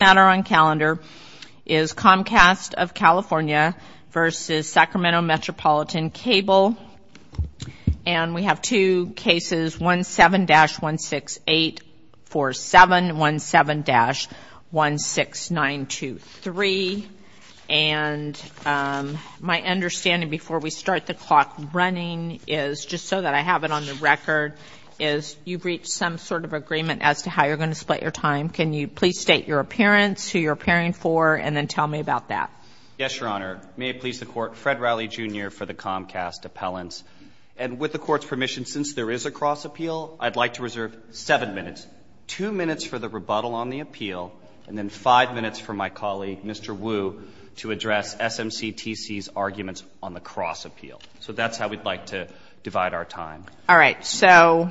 This matter on calendar is Comcast of California v. Sacramento Metropolitan Cable and we have two cases 17-16847 and 17-16923 and my understanding before we start the clock running is, just so that I have it on the record, is you've reached some sort of agreement as to how you're going to split your time. Can you please state your appearance, who you're appearing for, and then tell me about that? Yes, Your Honor. May it please the Court, Fred Rowley, Jr. for the Comcast Appellants. And with the Court's permission, since there is a cross-appeal, I'd like to reserve seven minutes, two minutes for the rebuttal on the appeal, and then five minutes for my colleague Mr. Wu to address SMCTC's arguments on the cross-appeal. So that's how we'd like to divide our time. All right. So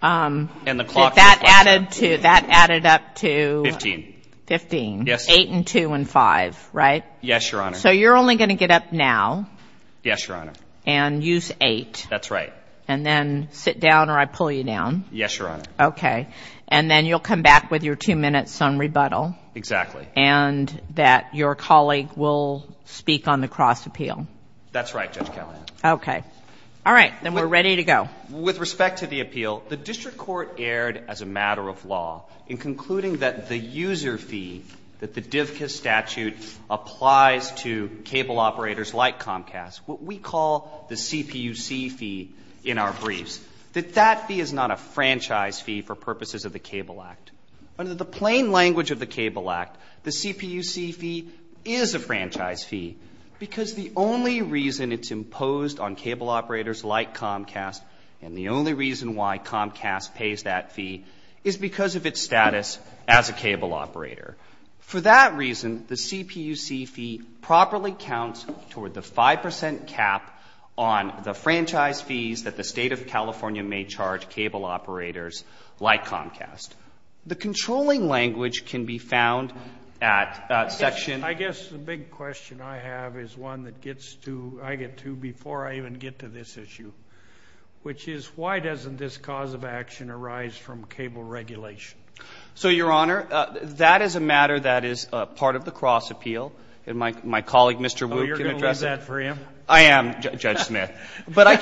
that added up to 15, 8 and 2 and 5, right? Yes, Your Honor. So you're only going to get up now and use 8 and then sit down or I pull you down? Yes, Your Honor. Okay. And then you'll come back with your two minutes on rebuttal and that your colleague will speak on the cross-appeal? That's right, Judge Kavanaugh. Okay. All right. Then we're ready to go. With respect to the appeal, the District Court erred as a matter of law in concluding that the user fee that the DVCA statute applies to cable operators like Comcast, what we call the CPUC fee in our briefs, that that fee is not a franchise fee for purposes of the Cable Act. Under the plain language of the Cable Act, the CPUC fee is a franchise fee because the only reason it's imposed on cable operators like Comcast and the only reason why Comcast pays that fee is because of its status as a cable operator. For that reason, the CPUC fee properly counts toward the 5 percent cap on the franchise fees that the State of California may charge cable operators like Comcast. The controlling language can be found at section... I get to before I even get to this issue, which is, why doesn't this cause of action arise from cable regulation? So Your Honor, that is a matter that is part of the cross-appeal, and my colleague, Mr. Wu, can address it. Oh, you're going to leave that for him? I am, Judge Smith. But I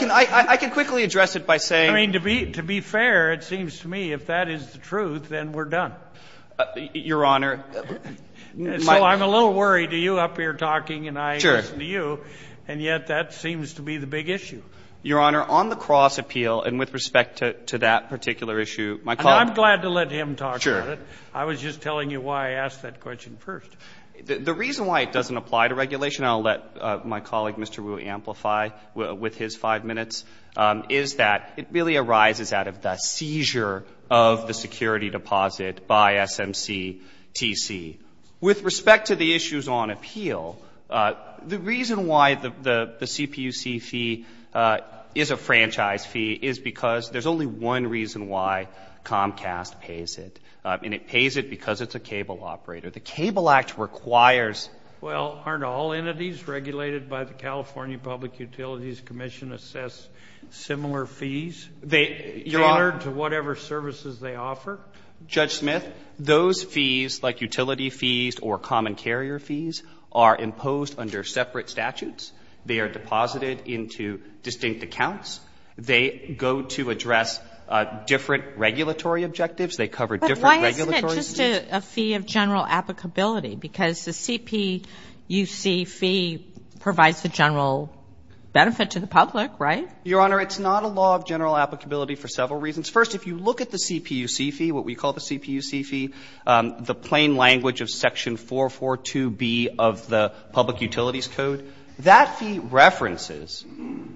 can quickly address it by saying... I mean, to be fair, it seems to me, if that is the truth, then we're done. Your Honor... So I'm a little worried. You're up here talking and I listen to you, and yet that seems to be the big issue. Your Honor, on the cross-appeal, and with respect to that particular issue, my colleague... I'm glad to let him talk about it. I was just telling you why I asked that question first. The reason why it doesn't apply to regulation, and I'll let my colleague, Mr. Wu, amplify with his five minutes, is that it really arises out of the seizure of the security deposit by SMCTC. With respect to the issues on appeal, the reason why the CPUC fee is a franchise fee is because there's only one reason why Comcast pays it, and it pays it because it's a cable operator. The Cable Act requires... Well, aren't all entities regulated by the California Public Utilities Commission assess similar fees, tailored to whatever services they offer? Judge Smith, those fees, like utility fees or common carrier fees, are imposed under separate statutes. They are deposited into distinct accounts. They go to address different regulatory objectives. They cover different regulatory... But why isn't it just a fee of general applicability? Because the CPUC fee provides the general benefit to the public, right? Your Honor, it's not a law of general applicability for several reasons. First, if you look at the CPUC fee, what we call the CPUC fee, the plain language of Section 442B of the Public Utilities Code, that fee references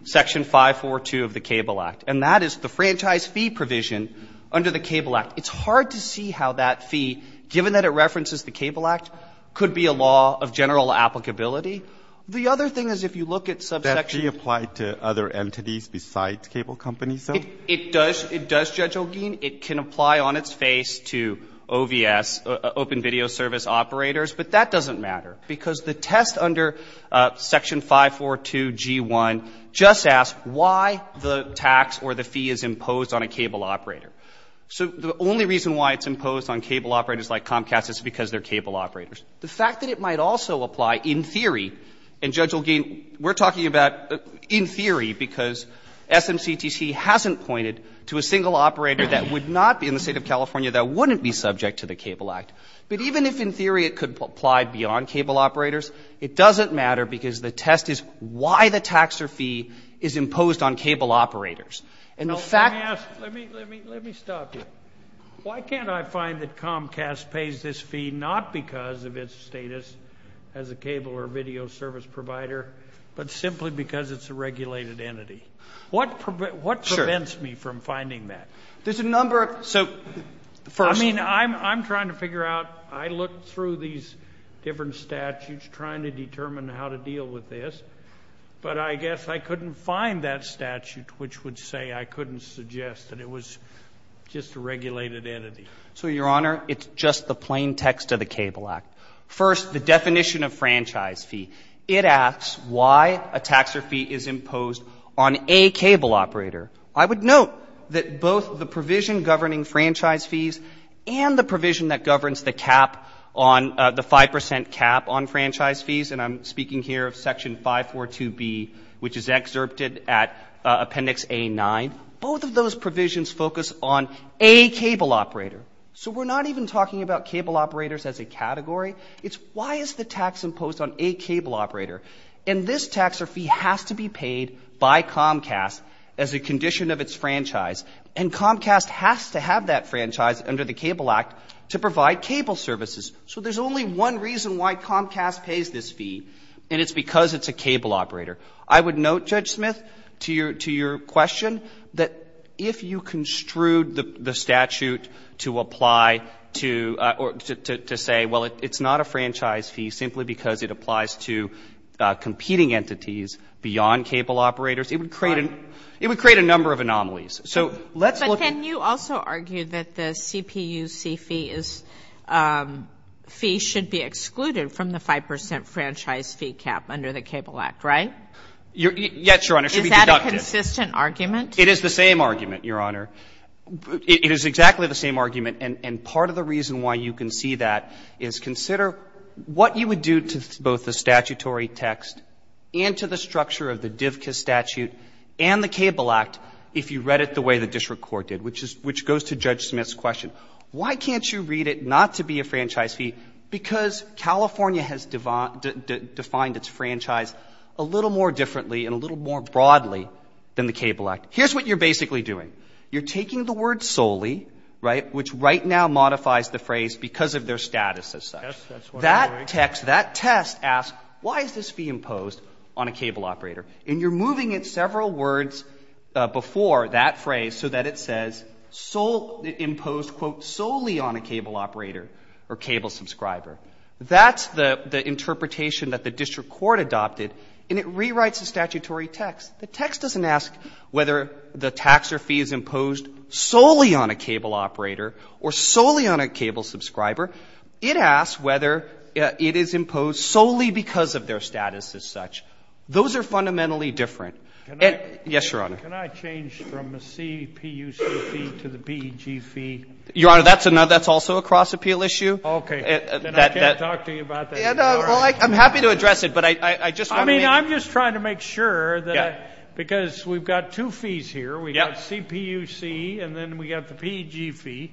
Section 542 of the Cable Act, and that is the franchise fee provision under the Cable Act. It's hard to see how that fee, given that it references the Cable Act, could be a law of general applicability. The other thing is if you look at subsection... That fee applied to other entities besides cable companies, though? It does, Judge Olguin. It can apply on its face to OVS, open video service operators, but that doesn't matter because the test under Section 542G1 just asks why the tax or the fee is imposed on a cable operator. So the only reason why it's imposed on cable operators like Comcast is because they're cable operators. The fact that it might also apply in theory, and Judge Olguin, we're talking about in theory because SMCTC hasn't pointed to a single operator that would not be in the State of California that wouldn't be subject to the Cable Act, but even if in theory it could apply beyond cable operators, it doesn't matter because the test is why the tax or fee is imposed on cable operators. And the fact... Let me stop you. Why can't I find that Comcast pays this fee not because of its status as a cable or video service provider, but simply because it's a regulated entity? What prevents me from finding that? There's a number of... So, first... I mean, I'm trying to figure out, I looked through these different statutes trying to determine how to deal with this, but I guess I couldn't find that statute which would say I couldn't suggest that it was just a regulated entity. So, Your Honor, it's just the plain text of the Cable Act. First, the definition of franchise fee. It asks why a tax or fee is imposed on a cable operator. I would note that both the provision governing franchise fees and the provision that governs the cap on the 5% cap on franchise fees, and I'm speaking here of Section 542B, which is excerpted at Appendix A-9, both of those provisions focus on a cable operator, so we're not even talking about cable operators as a category. It's why is the tax imposed on a cable operator, and this tax or fee has to be paid by Comcast as a condition of its franchise, and Comcast has to have that franchise under the Cable Act to provide cable services. So there's only one reason why Comcast pays this fee, and it's because it's a cable operator. I would note, Judge Smith, to your question, that if you construed the statute to apply to or to say, well, it's not a franchise fee simply because it applies to competing entities beyond cable operators, it would create a number of anomalies. So let's look at the statute. But can you also argue that the CPUC fee is fee should be excluded from the 5% franchise fee cap under the Cable Act, right? Yes, Your Honor. It should be deducted. Is that a consistent argument? It is the same argument, Your Honor. It is exactly the same argument, and part of the reason why you can see that is consider what you would do to both the statutory text and to the structure of the DVCA statute and the Cable Act if you read it the way the district court did, which goes to Judge Smith's question. Why can't you read it not to be a franchise fee? Because California has defined its franchise a little more differently and a little more broadly than the Cable Act. Here's what you're basically doing. You're taking the word solely, right, which right now modifies the phrase because of their status as such. Yes, that's what I'm doing. That text, that test asks, why is this fee imposed on a cable operator? And you're moving it several words before that phrase so that it says imposed, quote, solely on a cable operator or cable subscriber. That's the interpretation that the district court adopted, and it rewrites the statutory text. The text doesn't ask whether the tax or fee is imposed solely on a cable operator or solely on a cable subscriber. It asks whether it is imposed solely because of their status as such. Those are fundamentally different. And, yes, Your Honor. Can I change from a CPUC fee to the PEG fee? Your Honor, that's another, that's also a cross-appeal issue. Okay. Then I can't talk to you about that. All right. Well, I'm happy to address it, but I just want to make sure. I'm just trying to make sure that, because we've got two fees here, we've got CPUC and then we've got the PEG fee,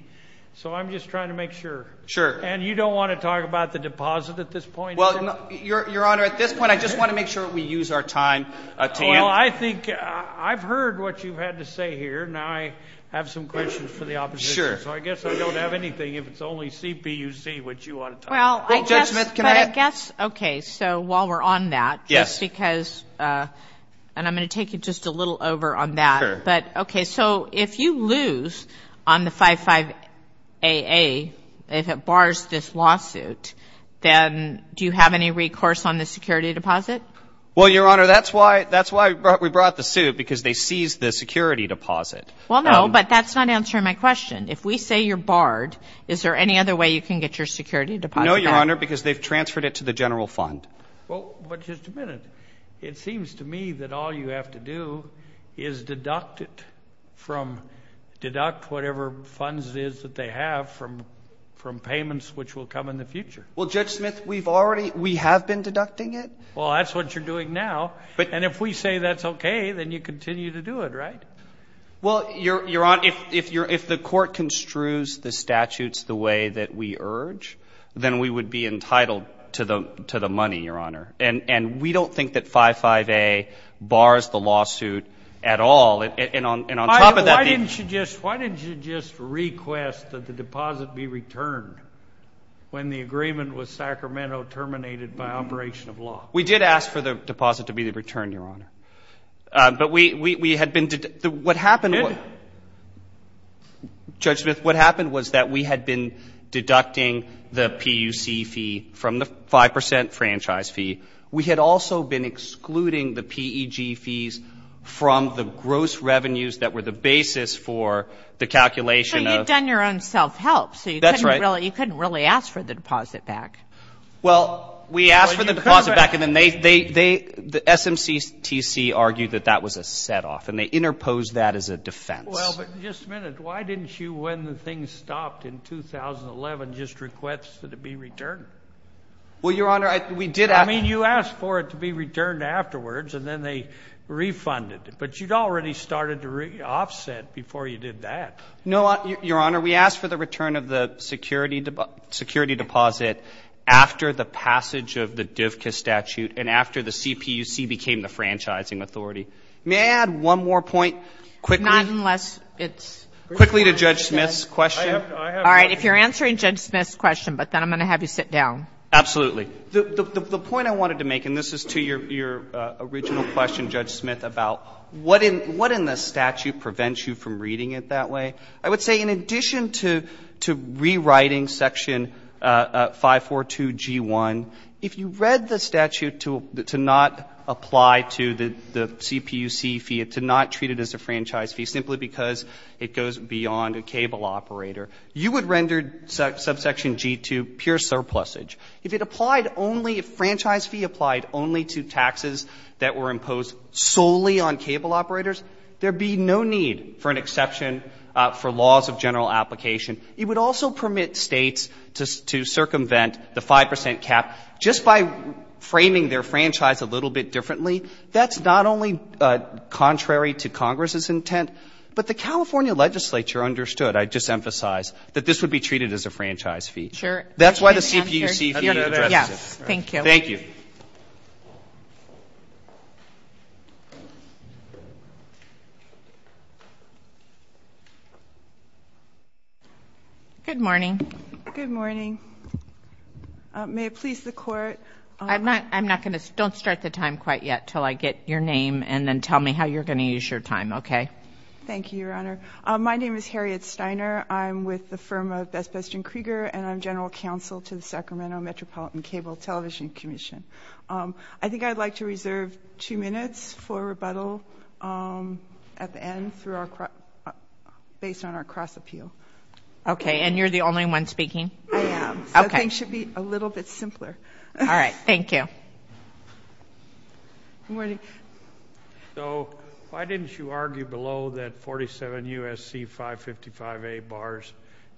so I'm just trying to make sure. Sure. And you don't want to talk about the deposit at this point? Well, Your Honor, at this point, I just want to make sure we use our time to answer. Well, I think I've heard what you've had to say here. Now I have some questions for the opposition. Sure. So I guess I don't have anything. If it's only CPUC, what do you want to talk about? Well, I guess. Judge Smith, can I add? Well, I guess. Okay. So while we're on that. Yes. Just because, and I'm going to take you just a little over on that. Sure. But, okay. So if you lose on the 55AA, if it bars this lawsuit, then do you have any recourse on the security deposit? Well, Your Honor, that's why we brought the suit, because they seized the security deposit. Well, no, but that's not answering my question. If we say you're barred, is there any other way you can get your security deposit back? No, Your Honor, because they've transferred it to the general fund. Well, but just a minute. It seems to me that all you have to do is deduct it from, deduct whatever funds it is that they have from payments which will come in the future. Well, Judge Smith, we've already, we have been deducting it. Well, that's what you're doing now. And if we say that's okay, then you continue to do it, right? Well, Your Honor, if the court construes the statutes the way that we urge, then we would be entitled to the money, Your Honor. And we don't think that 55AA bars the lawsuit at all. And on top of that, why didn't you just request that the deposit be returned when the agreement with Sacramento terminated by operation of law? We did ask for the deposit to be returned, Your Honor. But we had been, what happened, Judge Smith, what happened was that we had been deducting the PUC fee from the 5% franchise fee. We had also been excluding the PEG fees from the gross revenues that were the basis for the calculation of. So you've done your own self-help. That's right. So you couldn't really ask for the deposit back. Well, we asked for the deposit back and then they, the SMCTC argued that that was a set off and they interposed that as a defense. Well, but just a minute, why didn't you, when the thing stopped in 2011, just request that it be returned? Well, Your Honor, we did ask. I mean, you asked for it to be returned afterwards and then they refunded it. But you'd already started to re-offset before you did that. No, Your Honor, we asked for the return of the security deposit after the passage of the DVCA statute and after the CPUC became the franchising authority. May I add one more point quickly? Not unless it's... Quickly to Judge Smith's question? I have nothing to add. All right. If you're answering Judge Smith's question, but then I'm going to have you sit down. Absolutely. The point I wanted to make, and this is to your original question, Judge Smith, about what in the statute prevents you from reading it that way, I would say in addition to rewriting Section 542G1, if you read the statute to not apply to the CPUC fee, to not treat it as a franchise fee simply because it goes beyond a cable operator, you would render subsection G2 pure surplusage. If it applied only, if franchise fee applied only to taxes that were imposed solely on cable operators, there'd be no need for an exception for laws of general application. It would also permit states to circumvent the 5% cap just by framing their franchise a little bit differently. That's not only contrary to Congress's intent, but the California legislature understood, I just emphasize, that this would be treated as a franchise fee. Sure. That's why the CPUC fee addresses it. Yes. Thank you. Thank you. Good morning. Good morning. May it please the Court? I'm not going to, don't start the time quite yet until I get your name and then tell me how you're going to use your time, okay? Thank you, Your Honor. My name is Harriet Steiner. I'm with the firm of Best Best and Krieger, and I'm general counsel to the Sacramento Metropolitan Cable Television Commission. I think I'd like to reserve two minutes for rebuttal at the end based on our cross-appeal. Okay. And you're the only one speaking? I am. Okay. So things should be a little bit simpler. All right. Thank you. Good morning. So why didn't you argue below that 47 U.S.C. 555A bars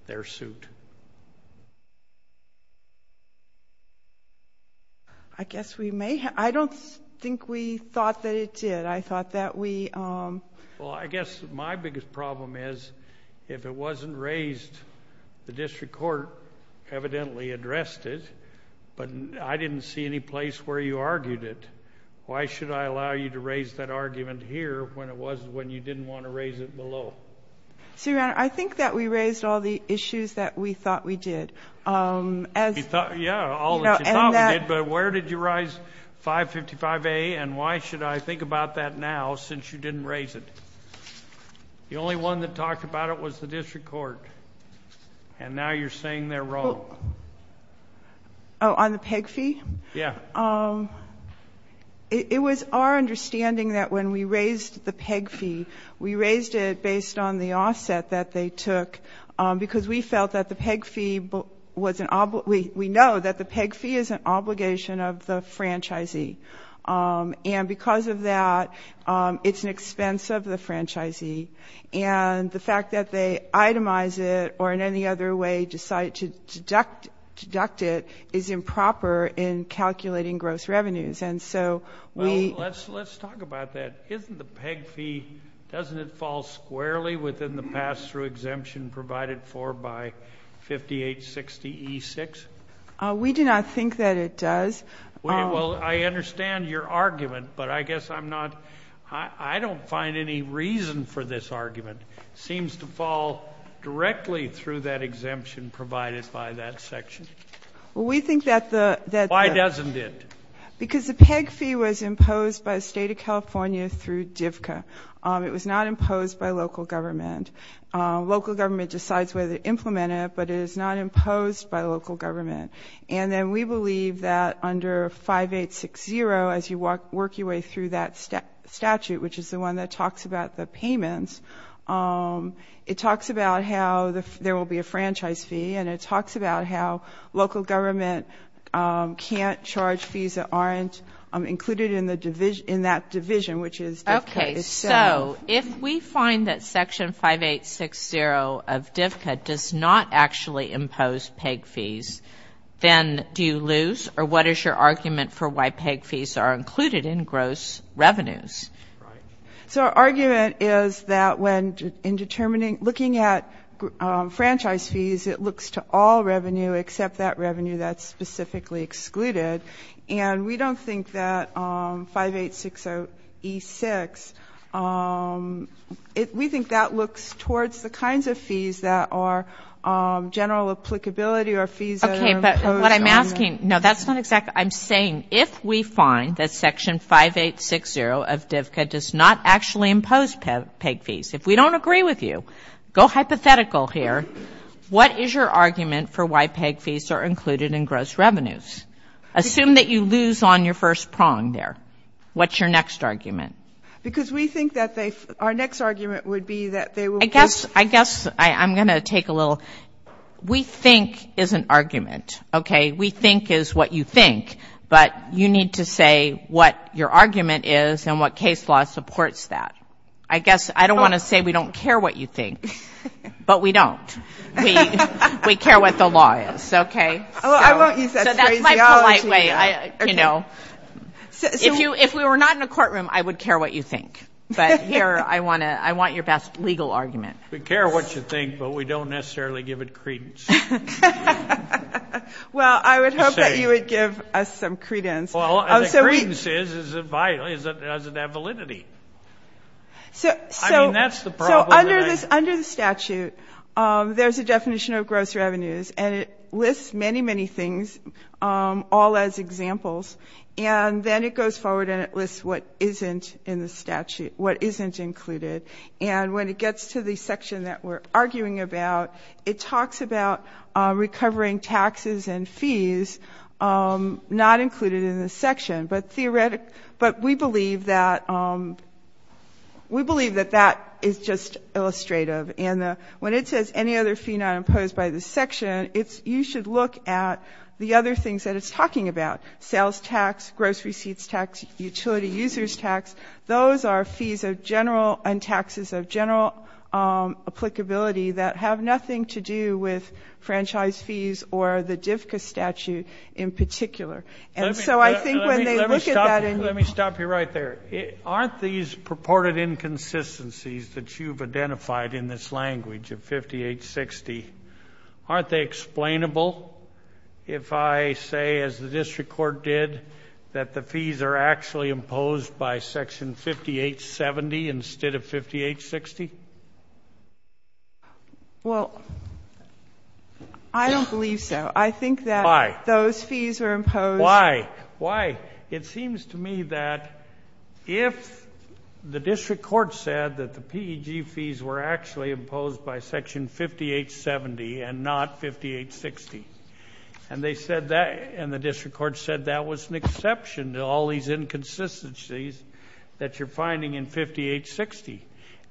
their suit? I guess we may have. I don't think we thought that it did. I thought that we... Well, I guess my biggest problem is, if it wasn't raised, the district court evidently addressed it, but I didn't see any place where you argued it. Why should I allow you to raise that argument here when it was... when you didn't want to raise it below? So, Your Honor, I think that we raised all the issues that we thought we did. As... Yeah, all that you thought we did, but where did you rise 555A, and why should I think about that now since you didn't raise it? The only one that talked about it was the district court, and now you're saying they're wrong. Oh, on the PEG fee? Yeah. But it was our understanding that when we raised the PEG fee, we raised it based on the offset that they took because we felt that the PEG fee was an... we know that the PEG fee is an obligation of the franchisee, and because of that, it's an expense of the franchisee, and the fact that they itemize it or in any other way decide to deduct it is improper in calculating gross revenues, and so we... Well, let's talk about that. Isn't the PEG fee... doesn't it fall squarely within the pass-through exemption provided for by 5860E6? We do not think that it does. Well, I understand your argument, but I guess I'm not... I don't find any reason for this argument. It seems to fall directly through that exemption provided by that section. Well, we think that the... Why doesn't it? Because the PEG fee was imposed by the State of California through DFCA. It was not imposed by local government. Local government decides whether to implement it, but it is not imposed by local government, and then we believe that under 5860, as you work your way through that statute, which is the one that talks about the payments, it talks about how there will be a franchise fee, and it talks about how local government can't charge fees that aren't included in the division... in that division, which is... Okay, so if we find that Section 5860 of DFCA does not actually impose PEG fees, then do you lose, or what is your argument for why PEG fees are included in gross revenues? Right. So our argument is that when in determining... looking at franchise fees, it looks to all revenue except that revenue that's specifically excluded, and we don't think that 5860E6... we think that looks towards the kinds of fees that are general applicability or fees that are imposed on... Okay, but what I'm asking... no, that's not exactly... I'm saying if we find that Section 5860 of DFCA does not actually impose PEG fees, if we don't agree with you, go hypothetical here. What is your argument for why PEG fees are included in gross revenues? Assume that you lose on your first prong there. What's your next argument? Because we think that they... our next argument would be that they will... I guess I'm going to take a little... we think is an argument, okay? We think is what you think, but you need to say what your argument is and what case law supports that. I guess I don't want to say we don't care what you think, but we don't. We care what the law is, okay? Well, I won't use that phrase at all. So that's my polite way, you know. If you... if we were not in a courtroom, I would care what you think. But here, I want to... I want your best legal argument. We care what you think, but we don't necessarily give it credence. Well, I would hope that you would give us some credence. Well, the credence is that it doesn't have validity. I mean, that's the problem that I... So under the statute, there's a definition of gross revenues, and it lists many, many things all as examples. And then it goes forward and it lists what isn't in the statute, what are recovering taxes and fees not included in the section. But we believe that that is just illustrative. And when it says any other fee not imposed by this section, you should look at the other things that it's talking about. Sales tax, gross receipts tax, utility users tax, those are fees of general and taxes of general applicability that have nothing to do with franchise fees or the DFCA statute in particular. And so I think when they look at that... Let me stop you right there. Aren't these purported inconsistencies that you've identified in this language of 5860, aren't they explainable if I say, as the district court did, that the fees are actually imposed by Section 5870 instead of 5860? Well, I don't believe so. I think that those fees are imposed... Why? Why? It seems to me that if the district court said that the PEG fees were actually imposed by Section 5870 and not 5860, and they said that... and the district court said that was an exception to all these inconsistencies that you're finding in 5860,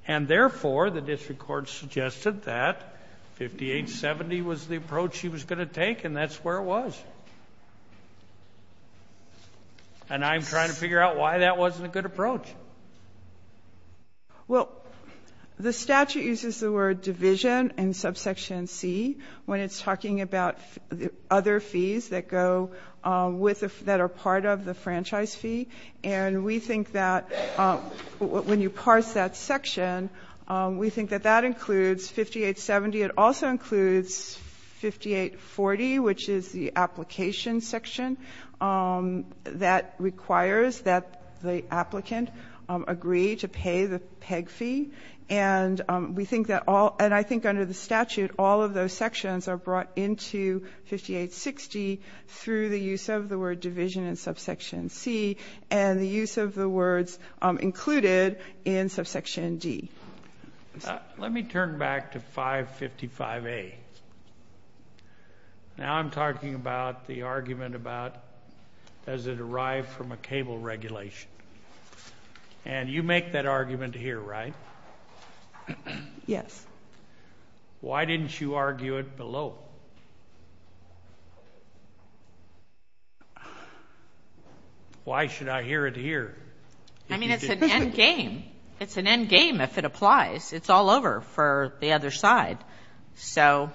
and therefore the district court suggested that 5870 was the approach she was going to take, and that's where it was. And I'm trying to figure out why that wasn't a good approach. Well, the statute uses the word division in subsection C when it's talking about other fees that go with... that are part of the franchise fee, and we think that when you parse that section, we think that that includes 5870. It also includes 5840, which is the application section that requires that the applicant agree to pay the PEG fee. And we think that all... and I think under the statute, all of those sections are brought into 5860 through the use of the word division in subsection C and the use of the words included in subsection D. Let me turn back to 555A. Now I'm talking about the argument about, does it arrive from a cable regulation? And you make that argument here, right? Yes. Why didn't you argue it below? Why should I hear it here? I mean, it's an end game. It's an end game if it applies. It's all over for the other side. So...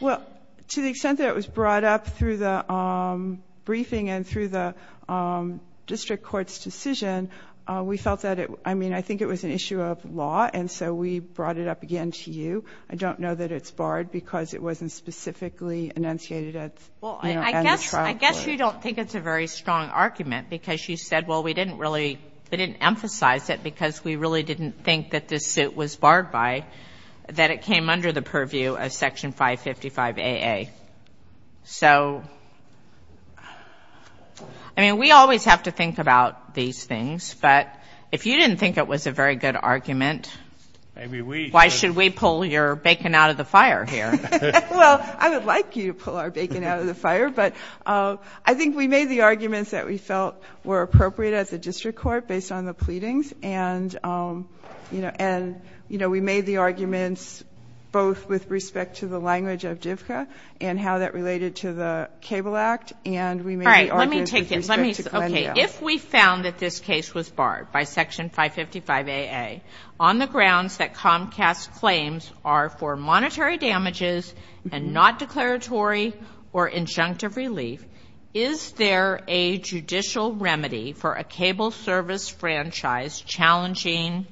Well, to the extent that it was brought up through the briefing and through the district court's decision, we felt that it... I mean, I think it was an issue of law, and so we brought it up again to you. I don't know that it's barred because it wasn't specifically enunciated at the trial court. Well, I guess you don't think it's a very strong argument because you said, well, we didn't really... we didn't emphasize it because we really didn't think that this suit was barred by... that it came under the purview of Section 555AA. So... I mean, we always have to think about these things, but if you didn't think it was a very good argument... Maybe we... Why should we pull your bacon out of the fire here? Well, I would like you to pull our bacon out of the fire, but I think we made the arguments that we felt were appropriate at the district court based on the pleadings, and we made the arguments both with respect to the language of DIVCA and how that related to the Cable Act, and we made the arguments with respect to Glendale. All right. Let me take it. Let me... Okay. If we found that this case was barred by Section 555AA on the grounds that Comcast's claims are for monetary damages and not declaratory or injunctive relief, is there a judicial remedy for a cable service franchise challenging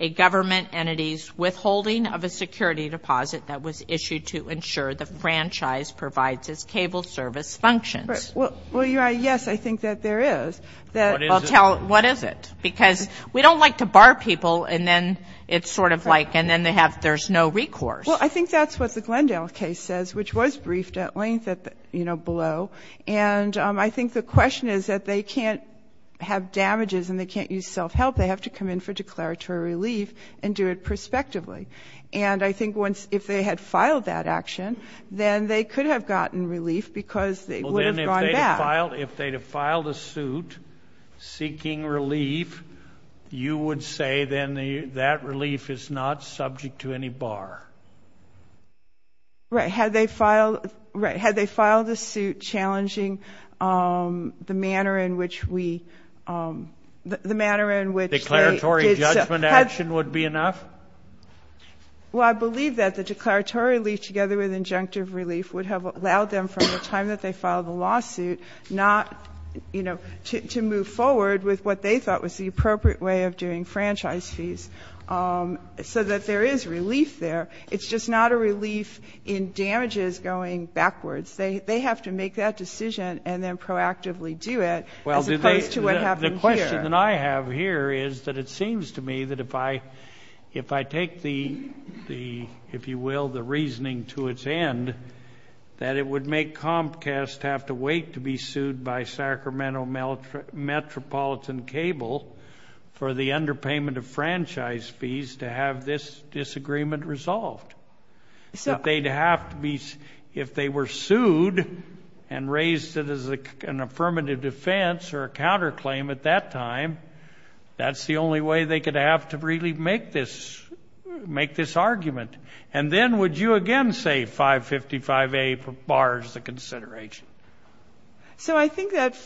a government entity's withholding of a security deposit that was issued to ensure the franchise provides its cable service functions? Well, your Honor, yes, I think that there is. What is it? Because we don't like to bar people, and then it's sort of like... and then they have... there's no recourse. Well, I think that's what the Glendale case says, which was briefed at length at the, you know, below, and I think the question is that they can't have damages and they can't use self-help. They have to come in for declaratory relief and do it prospectively, and I think once... if they had filed that action, then they could have gotten relief because they would have gone back. If they'd have filed a suit seeking relief, you would say then that relief is not subject to any bar? Right. Had they filed a suit challenging the manner in which we... the manner in which they... Declaratory judgment action would be enough? Well, I believe that the declaratory relief together with injunctive relief would have allowed them from the time that they filed the lawsuit not, you know, to move forward with what they thought was the appropriate way of doing franchise fees, so that there is relief there. It's just not a relief in damages going backwards. They have to make that decision and then proactively do it as opposed to what happened here. Well, the question that I have here is that it seems to me that if I take the, if you will, the reasoning to its end, that it would make Comcast have to wait to be sued by Sacramento Metropolitan Cable for the underpayment of franchise fees to have this disagreement resolved. If they were sued and raised it as an affirmative defense or a counterclaim at that time, that's the only way they could have to really make this, make this argument. And then would you again say 555A bars the consideration? So I think that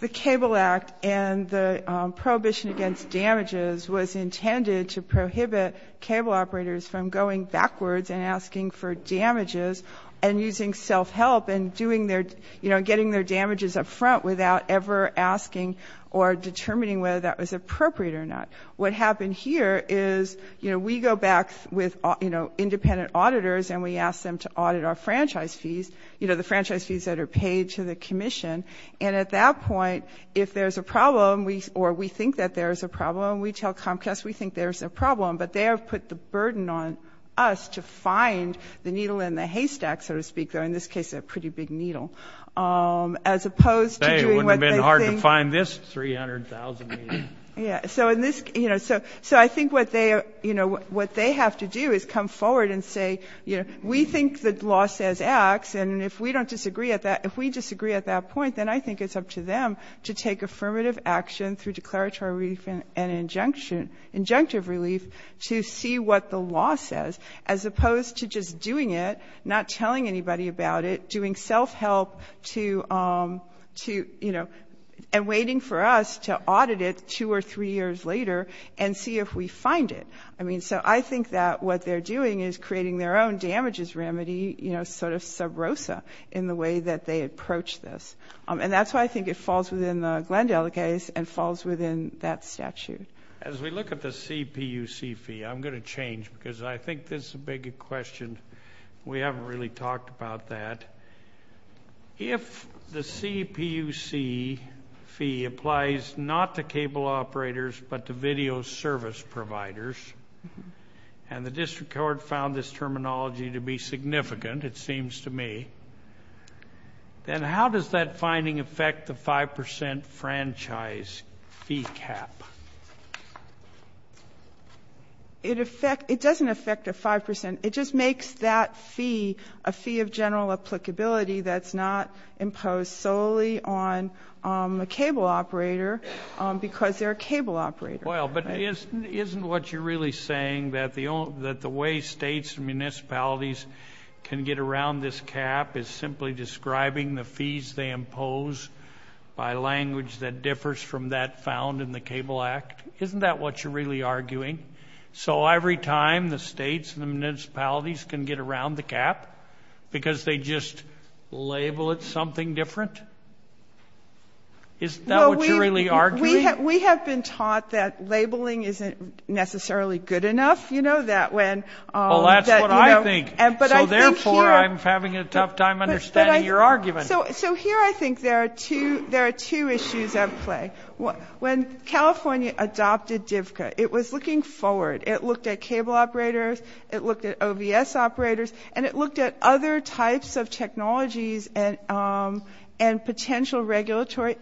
the Cable Act and the prohibition against damages was intended to prohibit cable operators from going backwards and asking for damages and using self-help and doing their, you know, getting their damages up front without ever asking or determining whether that was appropriate or not. What happened here is, you know, we go back with, you know, independent auditors and we ask them to audit our franchise fees, you know, the franchise fees that are paid to the commission. And at that point, if there's a problem, or we think that there's a problem, we tell Comcast we think there's a problem. But they have put the burden on us to find the needle in the haystack, so to speak, though in this case a pretty big needle, as opposed to doing what they think. You can't find this 300,000 needles. Yeah. So in this, you know, so I think what they, you know, what they have to do is come forward and say, you know, we think the law says X, and if we don't disagree at that, if we disagree at that point, then I think it's up to them to take affirmative action through declaratory relief and injunction, injunctive relief to see what the law says, as opposed to just doing it, not telling anybody about it, doing self-help to, you know, and waiting for us to audit it two or three years later and see if we find it. I mean, so I think that what they're doing is creating their own damages remedy, you know, sort of sub rosa in the way that they approach this. And that's why I think it falls within the Glenn Delegates and falls within that statute. As we look at the CPUC fee, I'm going to change, because I think this is a bigger question. We haven't really talked about that. If the CPUC fee applies not to cable operators but to video service providers, and the district court found this terminology to be significant, it seems to me, then how does that finding affect the 5% franchise fee cap? It doesn't affect the 5%. It just makes that fee a fee of general applicability that's not imposed solely on a cable operator, because they're a cable operator. Well, but isn't what you're really saying that the way states and municipalities can get around this cap is simply describing the fees they impose by language that differs from that found in the Cable Act? Isn't that what you're really arguing? So every time the states and the municipalities can get around the cap because they just label it something different? Isn't that what you're really arguing? We have been taught that labeling isn't necessarily good enough, you know, that when Well, that's what I think. So therefore, I'm having a tough time understanding your argument. So here I think there are two issues at play. When California adopted DVCA, it was looking forward. It looked at cable operators, it looked at OVS operators, and it looked at other types of technologies and potential regulatory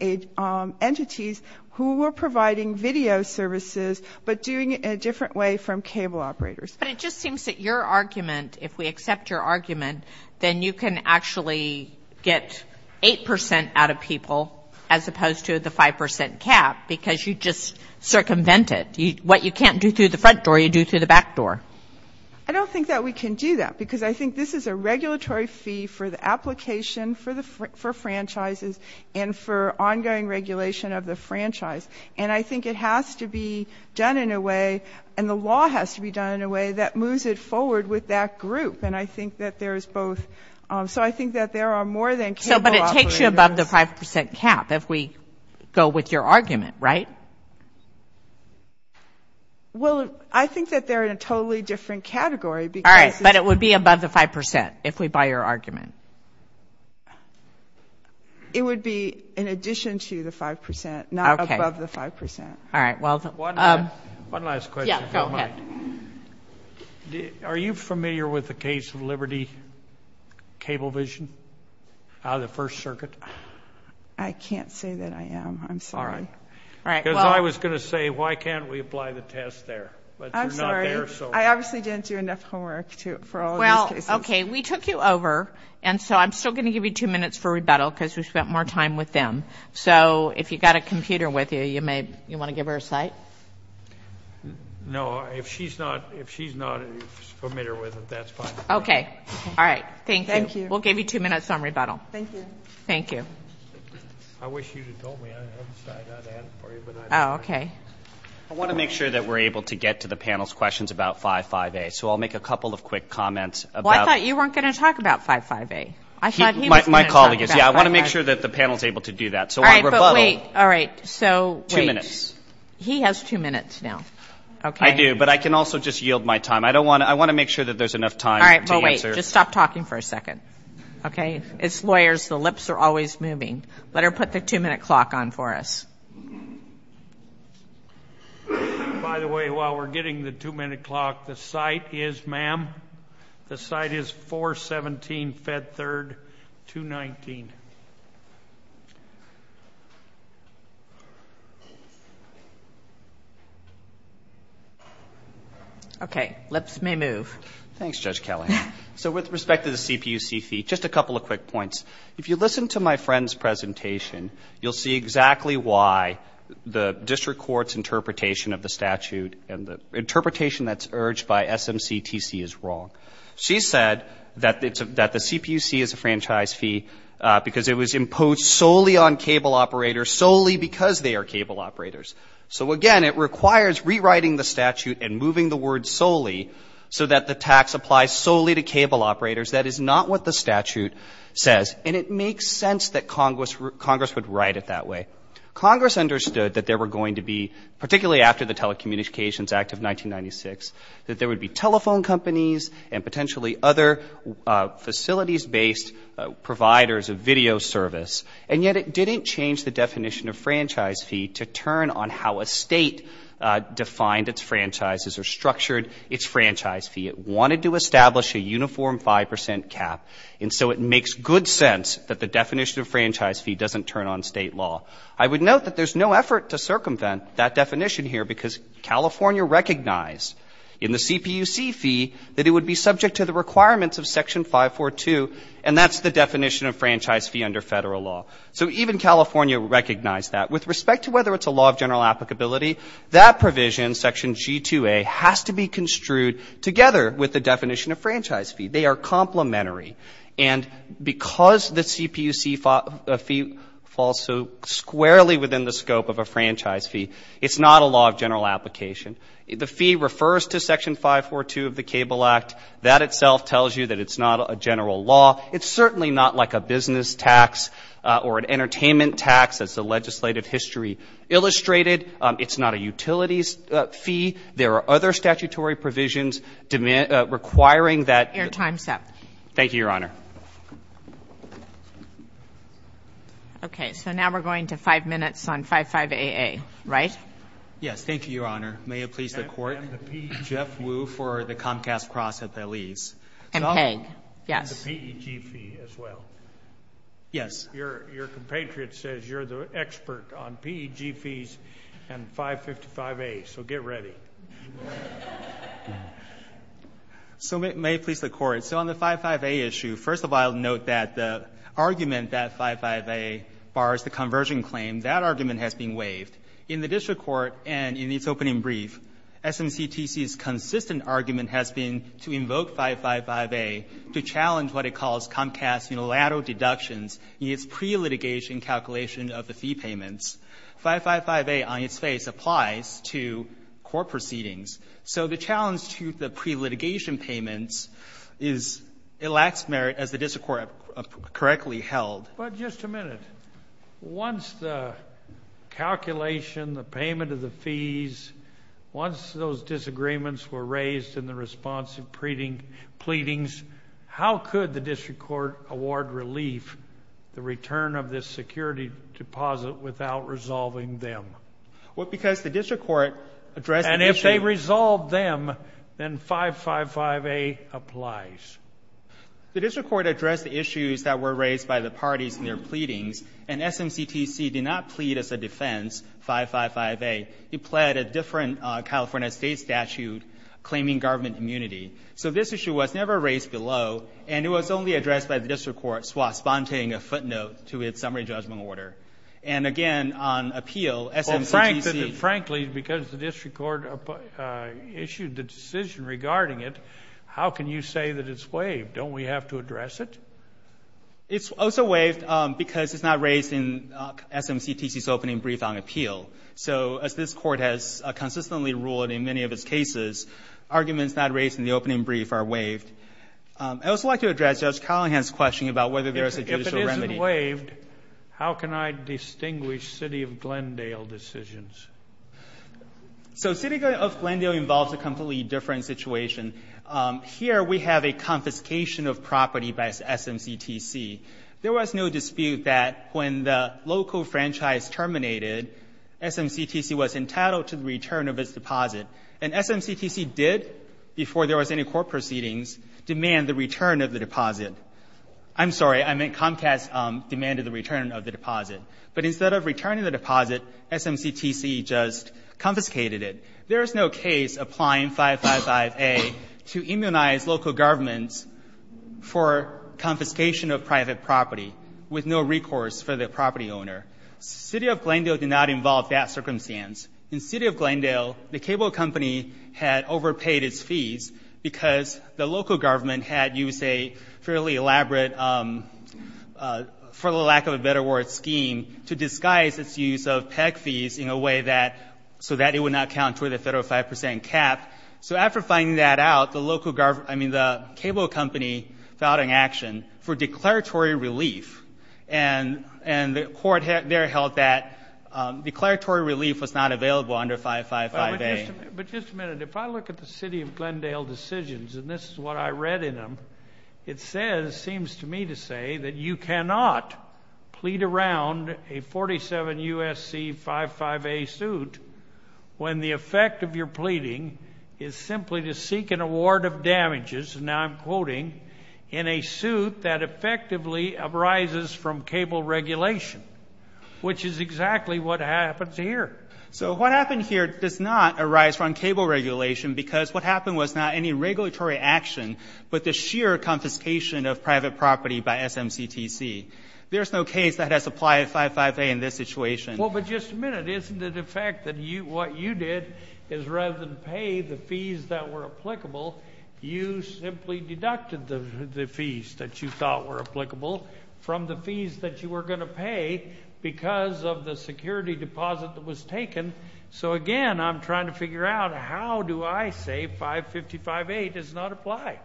entities who were providing video services but doing it in a different way from cable operators. But it just seems that your argument, if we accept your argument, then you can actually get 8 percent out of people as opposed to the 5 percent cap, because you just circumvent it. What you can't do through the front door, you do through the back door. I don't think that we can do that, because I think this is a regulatory fee for the application for franchises and for ongoing regulation of the franchise. And I think it has to be done in a way that moves it forward with that group. And I think that there is both. So I think that there are more than cable operators But it takes you above the 5 percent cap, if we go with your argument, right? Well, I think that they're in a totally different category, because All right, but it would be above the 5 percent, if we buy your argument. It would be in addition to the 5 percent, not above the 5 percent. One last question, if you don't mind. Are you familiar with the case of Liberty Cablevision out of the First Circuit? I can't say that I am. I'm sorry. Because I was going to say, why can't we apply the test there? I'm sorry. I obviously didn't do enough homework for all these cases. Well, okay, we took you over, and so I'm still going to give you two minutes for rebuttal, because we spent more time with them. So if you've got a computer with you, you want to give her a cite? No, if she's not familiar with it, that's fine. Okay. All right. Thank you. We'll give you two minutes on rebuttal. Thank you. I wish you'd have told me. I'm sorry, I didn't have it for you. I want to make sure that we're able to get to the panel's questions about 5.5a. So I'll make a couple of quick comments. Well, I thought you weren't going to talk about 5.5a. My colleague is. Yeah, I want to make sure that the panel's able to do that. All right, but wait. All right. So wait. Two minutes. He has two minutes now. I do, but I can also just yield my time. I want to make sure that there's enough time to answer. All right, but wait. Just stop talking for a second. Okay? As lawyers, the lips are always moving. Let her put the two-minute clock on for us. By the way, while we're getting the two-minute clock, the cite is, ma'am, the cite is 417, Fed 3rd, 219. Okay. Lips may move. Thanks, Judge Kelley. So with respect to the CPUC fee, just a couple of quick points. If you listen to my friend's presentation, you'll see exactly why the district court's interpretation of the statute and the interpretation that's urged by SMCTC is wrong. She said that the CPUC is a franchise fee because it was imposed solely on cable operators, solely because they are cable operators. So again, it requires rewriting the statute and moving the word solely so that the tax applies solely to cable operators. That is not what the statute says. And it makes sense that Congress would write it that way. Congress understood that there were going to be, particularly after the Telecommunications Act of 1996, that there would be telephone companies and potentially other facilities-based providers of video service. And yet it didn't change the definition of franchise fee to turn on how a state defined its franchises or structured its franchise fee. It wanted to establish a uniform 5% cap. And so it makes good sense that the definition of franchise fee doesn't turn on state law. I would note that there's no effort to circumvent that definition here because California recognized in the CPUC fee that it would be subject to the requirements of Section 542, and that's the definition of franchise fee under federal law. So even California recognized that. With respect to whether it's a law of general applicability, that provision, Section G2A, has to be construed together with the definition of franchise fee. They are complementary. And because the CPUC fee falls so squarely within the scope of a franchise fee, it's not a law of general application. The fee refers to Section 542 of the Cable Act. That itself tells you that it's not a general law. It's certainly not like a business tax or an entertainment tax as the legislative history illustrated. It's not a utilities fee. There are other statutory provisions requiring that... Your time's up. Thank you, Your Honor. Okay, so now we're going to five minutes on 55AA, right? Yes, thank you, Your Honor. May it please the Court. And the PEG fee. Jeff Wu for the Comcast Cross at the leaves. And PEG, yes. And the PEG fee as well. Yes. Your compatriot says you're the expert on PEG fees and 555A, so get ready. So may it please the Court. So on the 55AA issue, first of all, note that the argument that 55AA bars the conversion claim, that argument has been waived. In the district court and in its opening brief, SMCTC's consistent argument has been to invoke 555A to challenge what it calls Comcast's unilateral deductions in its pre-litigation calculation of the fee payments. 555A, on its face, applies to court proceedings. So the challenge to the pre-litigation payments is it lacks merit as the district court correctly held. But just a minute. Once the calculation, the payment of the fees, once those disagreements were raised in the response of pleadings, how could the district court award relief the return of this security deposit without resolving them? Well, because the district court addressed the issue. And if they resolve them, then 555A applies. The district court addressed the issues that were raised by the parties in their pleadings, and SMCTC did not plead as a defense 555A. It pled a different California state statute claiming government immunity. So this issue was never raised below, and it was only addressed by the district court while sponsoring a footnote to its summary judgment order. And again, on appeal, SMCTC... Well, frankly, because the district court issued the decision regarding it, how can you say that it's waived? Don't we have to address it? It's also waived because it's not raised in SMCTC's opening brief on appeal. So as this court has consistently ruled in many of its cases, arguments not raised in the opening brief are waived. I'd also like to address Judge Collingham's question about whether there is a judicial remedy. If it isn't waived, how can I distinguish City of Glendale decisions? So City of Glendale involves a completely different situation. Here we have a confiscation of property by SMCTC. There was no dispute that when the local franchise terminated, SMCTC was entitled to the return of its deposit. And SMCTC did, before there was any court proceedings, demand the return of the deposit. I'm sorry, I meant Comcast demanded the return of the deposit. But instead of returning the deposit, SMCTC just confiscated it. There is no case applying 555A to immunize local governments for confiscation of private property with no recourse for the property owner. City of Glendale did not involve that circumstance. In City of Glendale, the cable company had overpaid its fees because the local government had used a fairly elaborate, for lack of a better word, scheme to disguise its use of PEC fees so that it would not counter the federal 5% cap. So after finding that out, the cable company filed an action for declaratory relief. And the court there held that But just a minute, if I look at the City of Glendale decisions, and this is what I read in them, it seems to me to say that you cannot plead around a 47 U.S.C. 55A suit when the effect of your pleading is simply to seek an award of damages, and now I'm quoting, in a suit that effectively arises from cable regulation, which is exactly what happens here. So what happened here does not arise from cable regulation because what happened was not any regulatory action, but the sheer confiscation of private property by SMCTC. There's no case that has applied to 55A in this situation. Well, but just a minute, isn't it a fact that what you did is rather than pay the fees that were applicable, you simply deducted the fees that you thought were applicable from the fees that you were going to pay because of the security deposit that was taken? So again, I'm trying to figure out how do I say 55A does not apply?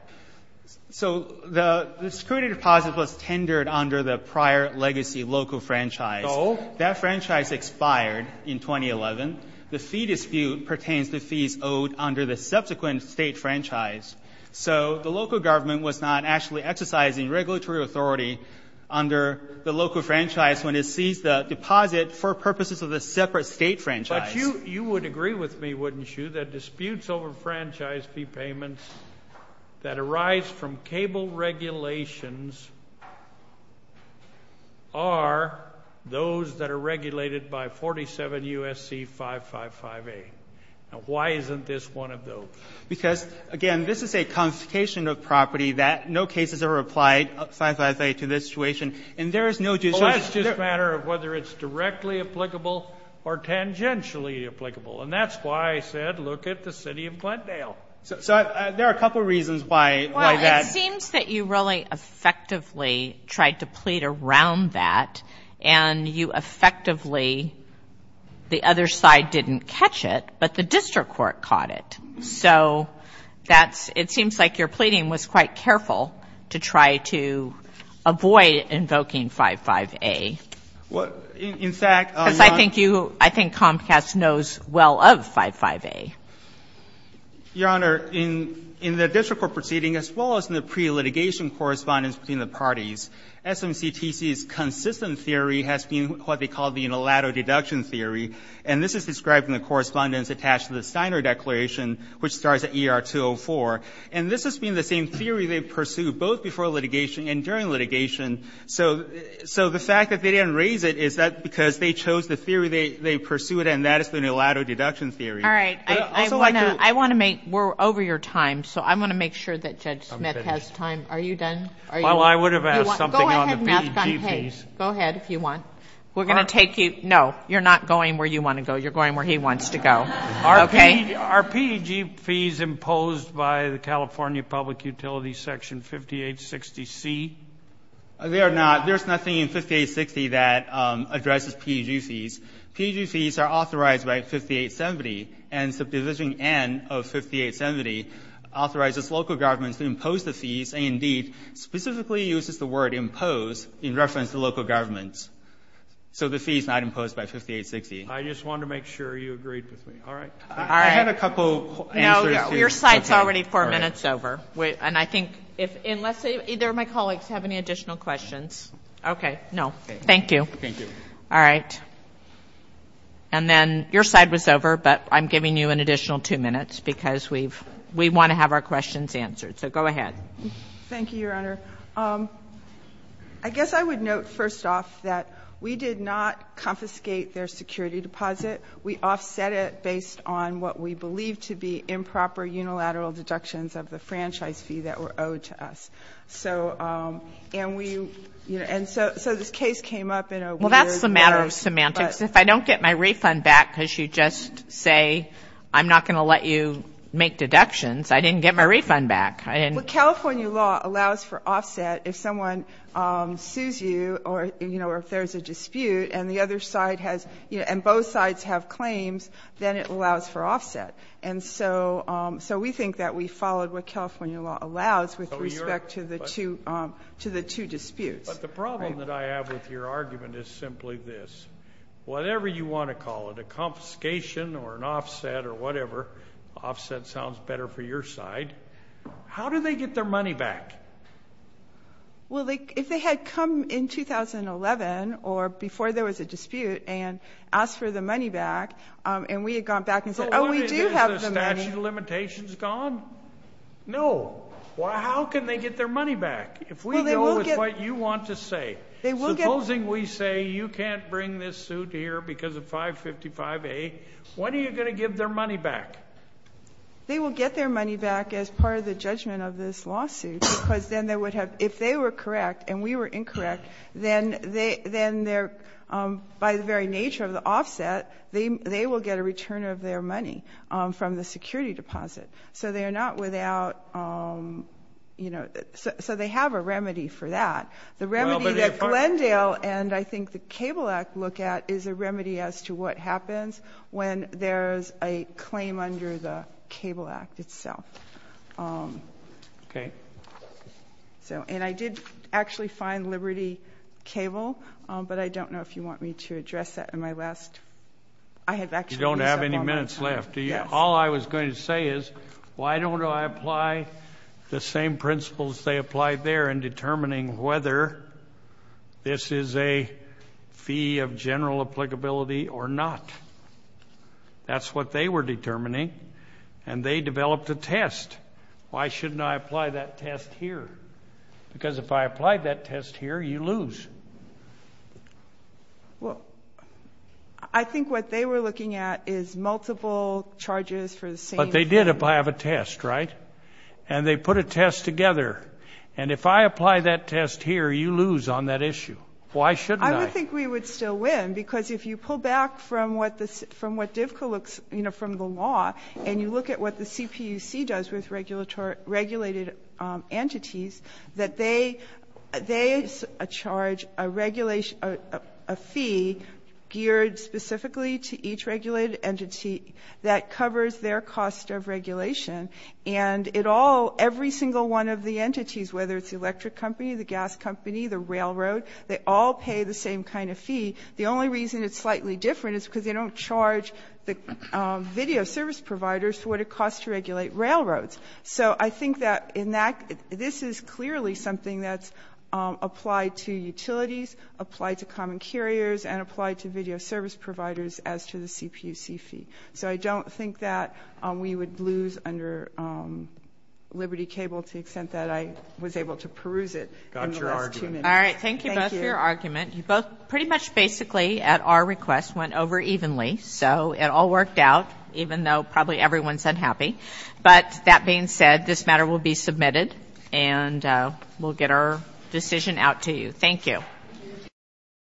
So the security deposit was tendered under the prior legacy local franchise. That franchise expired in 2011. The fee dispute pertains to fees owed under the subsequent state franchise. So the local government was not actually exercising regulatory authority under the local franchise when it seized the deposit for purposes of the separate state franchise. But you would agree with me, wouldn't you, that disputes over franchise fee payments that arise from cable regulations are those that are regulated by 47 U.S.C. 555A. Now, why isn't this one of those? Because, again, this is a confiscation of property that no cases ever applied 555A to this situation. And there is no... Well, that's just a matter of whether it's directly applicable or tangentially applicable. And that's why I said look at the city of Glendale. So there are a couple of reasons why that... Well, it seems that you really effectively tried to plead around that. And you effectively... The other side didn't catch it, but the district court caught it. So that's... It seems like your pleading was quite careful to try to avoid invoking 555A. Well, in fact... Because I think you... I think Comcast knows well of 555A. Your Honor, in the district court proceeding, as well as in the pre-litigation correspondence between the parties, SMCTC's consistent theory has been what they call the unilateral deduction theory. And this is described in the correspondence attached to the Steiner Declaration, which starts at ER 204. And this has been the same theory they pursued both before litigation and during litigation. So the fact that they didn't raise it is that because they chose the theory they pursued, and that is the unilateral deduction theory. All right. I want to make... We're over your time, so I want to make sure that Judge Smith has time. Are you done? Well, I would have asked something on the BEG piece. Go ahead if you want. We're going to take you... No, you're not going where you want to go. You're going where he wants to go. Okay? Are PEG fees imposed by the California Public Utilities Section 5860C? They are not. There's nothing in 5860 that addresses PEG fees. PEG fees are authorized by 5870, and Subdivision N of 5870 authorizes local governments to impose the fees, and indeed, specifically uses the word impose in reference to local governments. So the fee is not imposed by 5860. I just wanted to make sure you agreed with me. All right. All right. I had a couple answers to... No, no. Your side's already four minutes over. And I think if... Unless either of my colleagues have any additional questions. Okay. No. Thank you. Thank you. All right. And then your side was over, but I'm giving you an additional two minutes because we want to have our questions answered. So go ahead. Thank you, Your Honor. I guess I would note, first off, that we did not confiscate their security deposit. We offset it based on what we believe to be improper unilateral deductions of the franchise fee that were owed to us. So... And we... And so this case came up in a weird... Well, that's the matter of semantics. If I don't get my refund back because you just say, I'm not going to let you make deductions, I didn't get my refund back. Well, California law allows for offset if someone sues you or if there's a dispute and the other side has... And both sides have claims, then it allows for offset. And so we think that we followed what California law allows with respect to the two disputes. But the problem that I have with your argument is simply this. Whatever you want to call it, a confiscation or an offset or whatever, offset sounds better for your side. How do they get their money back? Well, if they had come in 2011 or before there was a dispute and asked for the money back and we had gone back and said, oh, we do have the money... Has the statute of limitations gone? No. Well, how can they get their money back if we go with what you want to say? Supposing we say, you can't bring this suit here because of 555A, when are you going to give their money back? They will get their money back as part of the judgment of this lawsuit because then they would have... If they were correct and we were incorrect, then by the very nature of the offset, they will get a return of their money from the security deposit. So they are not without... So they have a remedy for that. The remedy that Glendale and I think the Cable Act look at is a remedy as to what happens when there is a claim under the Cable Act itself. And I did actually find Liberty Cable, but I don't know if you want me to address that in my last... You don't have any minutes left. All I was going to say is, why don't I apply the same principles they applied there in determining whether this is a fee of general applicability or not? That's what they were determining and they developed a test. Why shouldn't I apply that test here? Because if I applied that test here, you lose. I think what they were looking at is multiple charges for the same... But they did apply a test, right? And they put a test together. And if I apply that test here, you lose on that issue. Why shouldn't I? I would think we would still win because if you pull back from what Divco looks... From the law, and you look at what the CPUC does with regulated entities, that they charge a fee geared specifically to each regulated entity that covers their cost of regulation. And it all... Every single one of the entities, whether it's the electric company, the gas company, the railroad, they all pay the same kind of fee. The only reason it's slightly different is because they don't charge the video service providers what it costs to regulate railroads. So I think that in that... This is clearly something that's applied to utilities, applied to common carriers, and applied to video service providers as to the CPUC fee. So I don't think that we would lose under Liberty Cable to the extent that I was able to peruse it in the last two minutes. Got your argument. All right, thank you both for your argument. Pretty much basically, at our request, went over evenly. So it all worked out, even though probably everyone's unhappy. But that being said, this matter will be submitted, and we'll get our decision out to you. Thank you.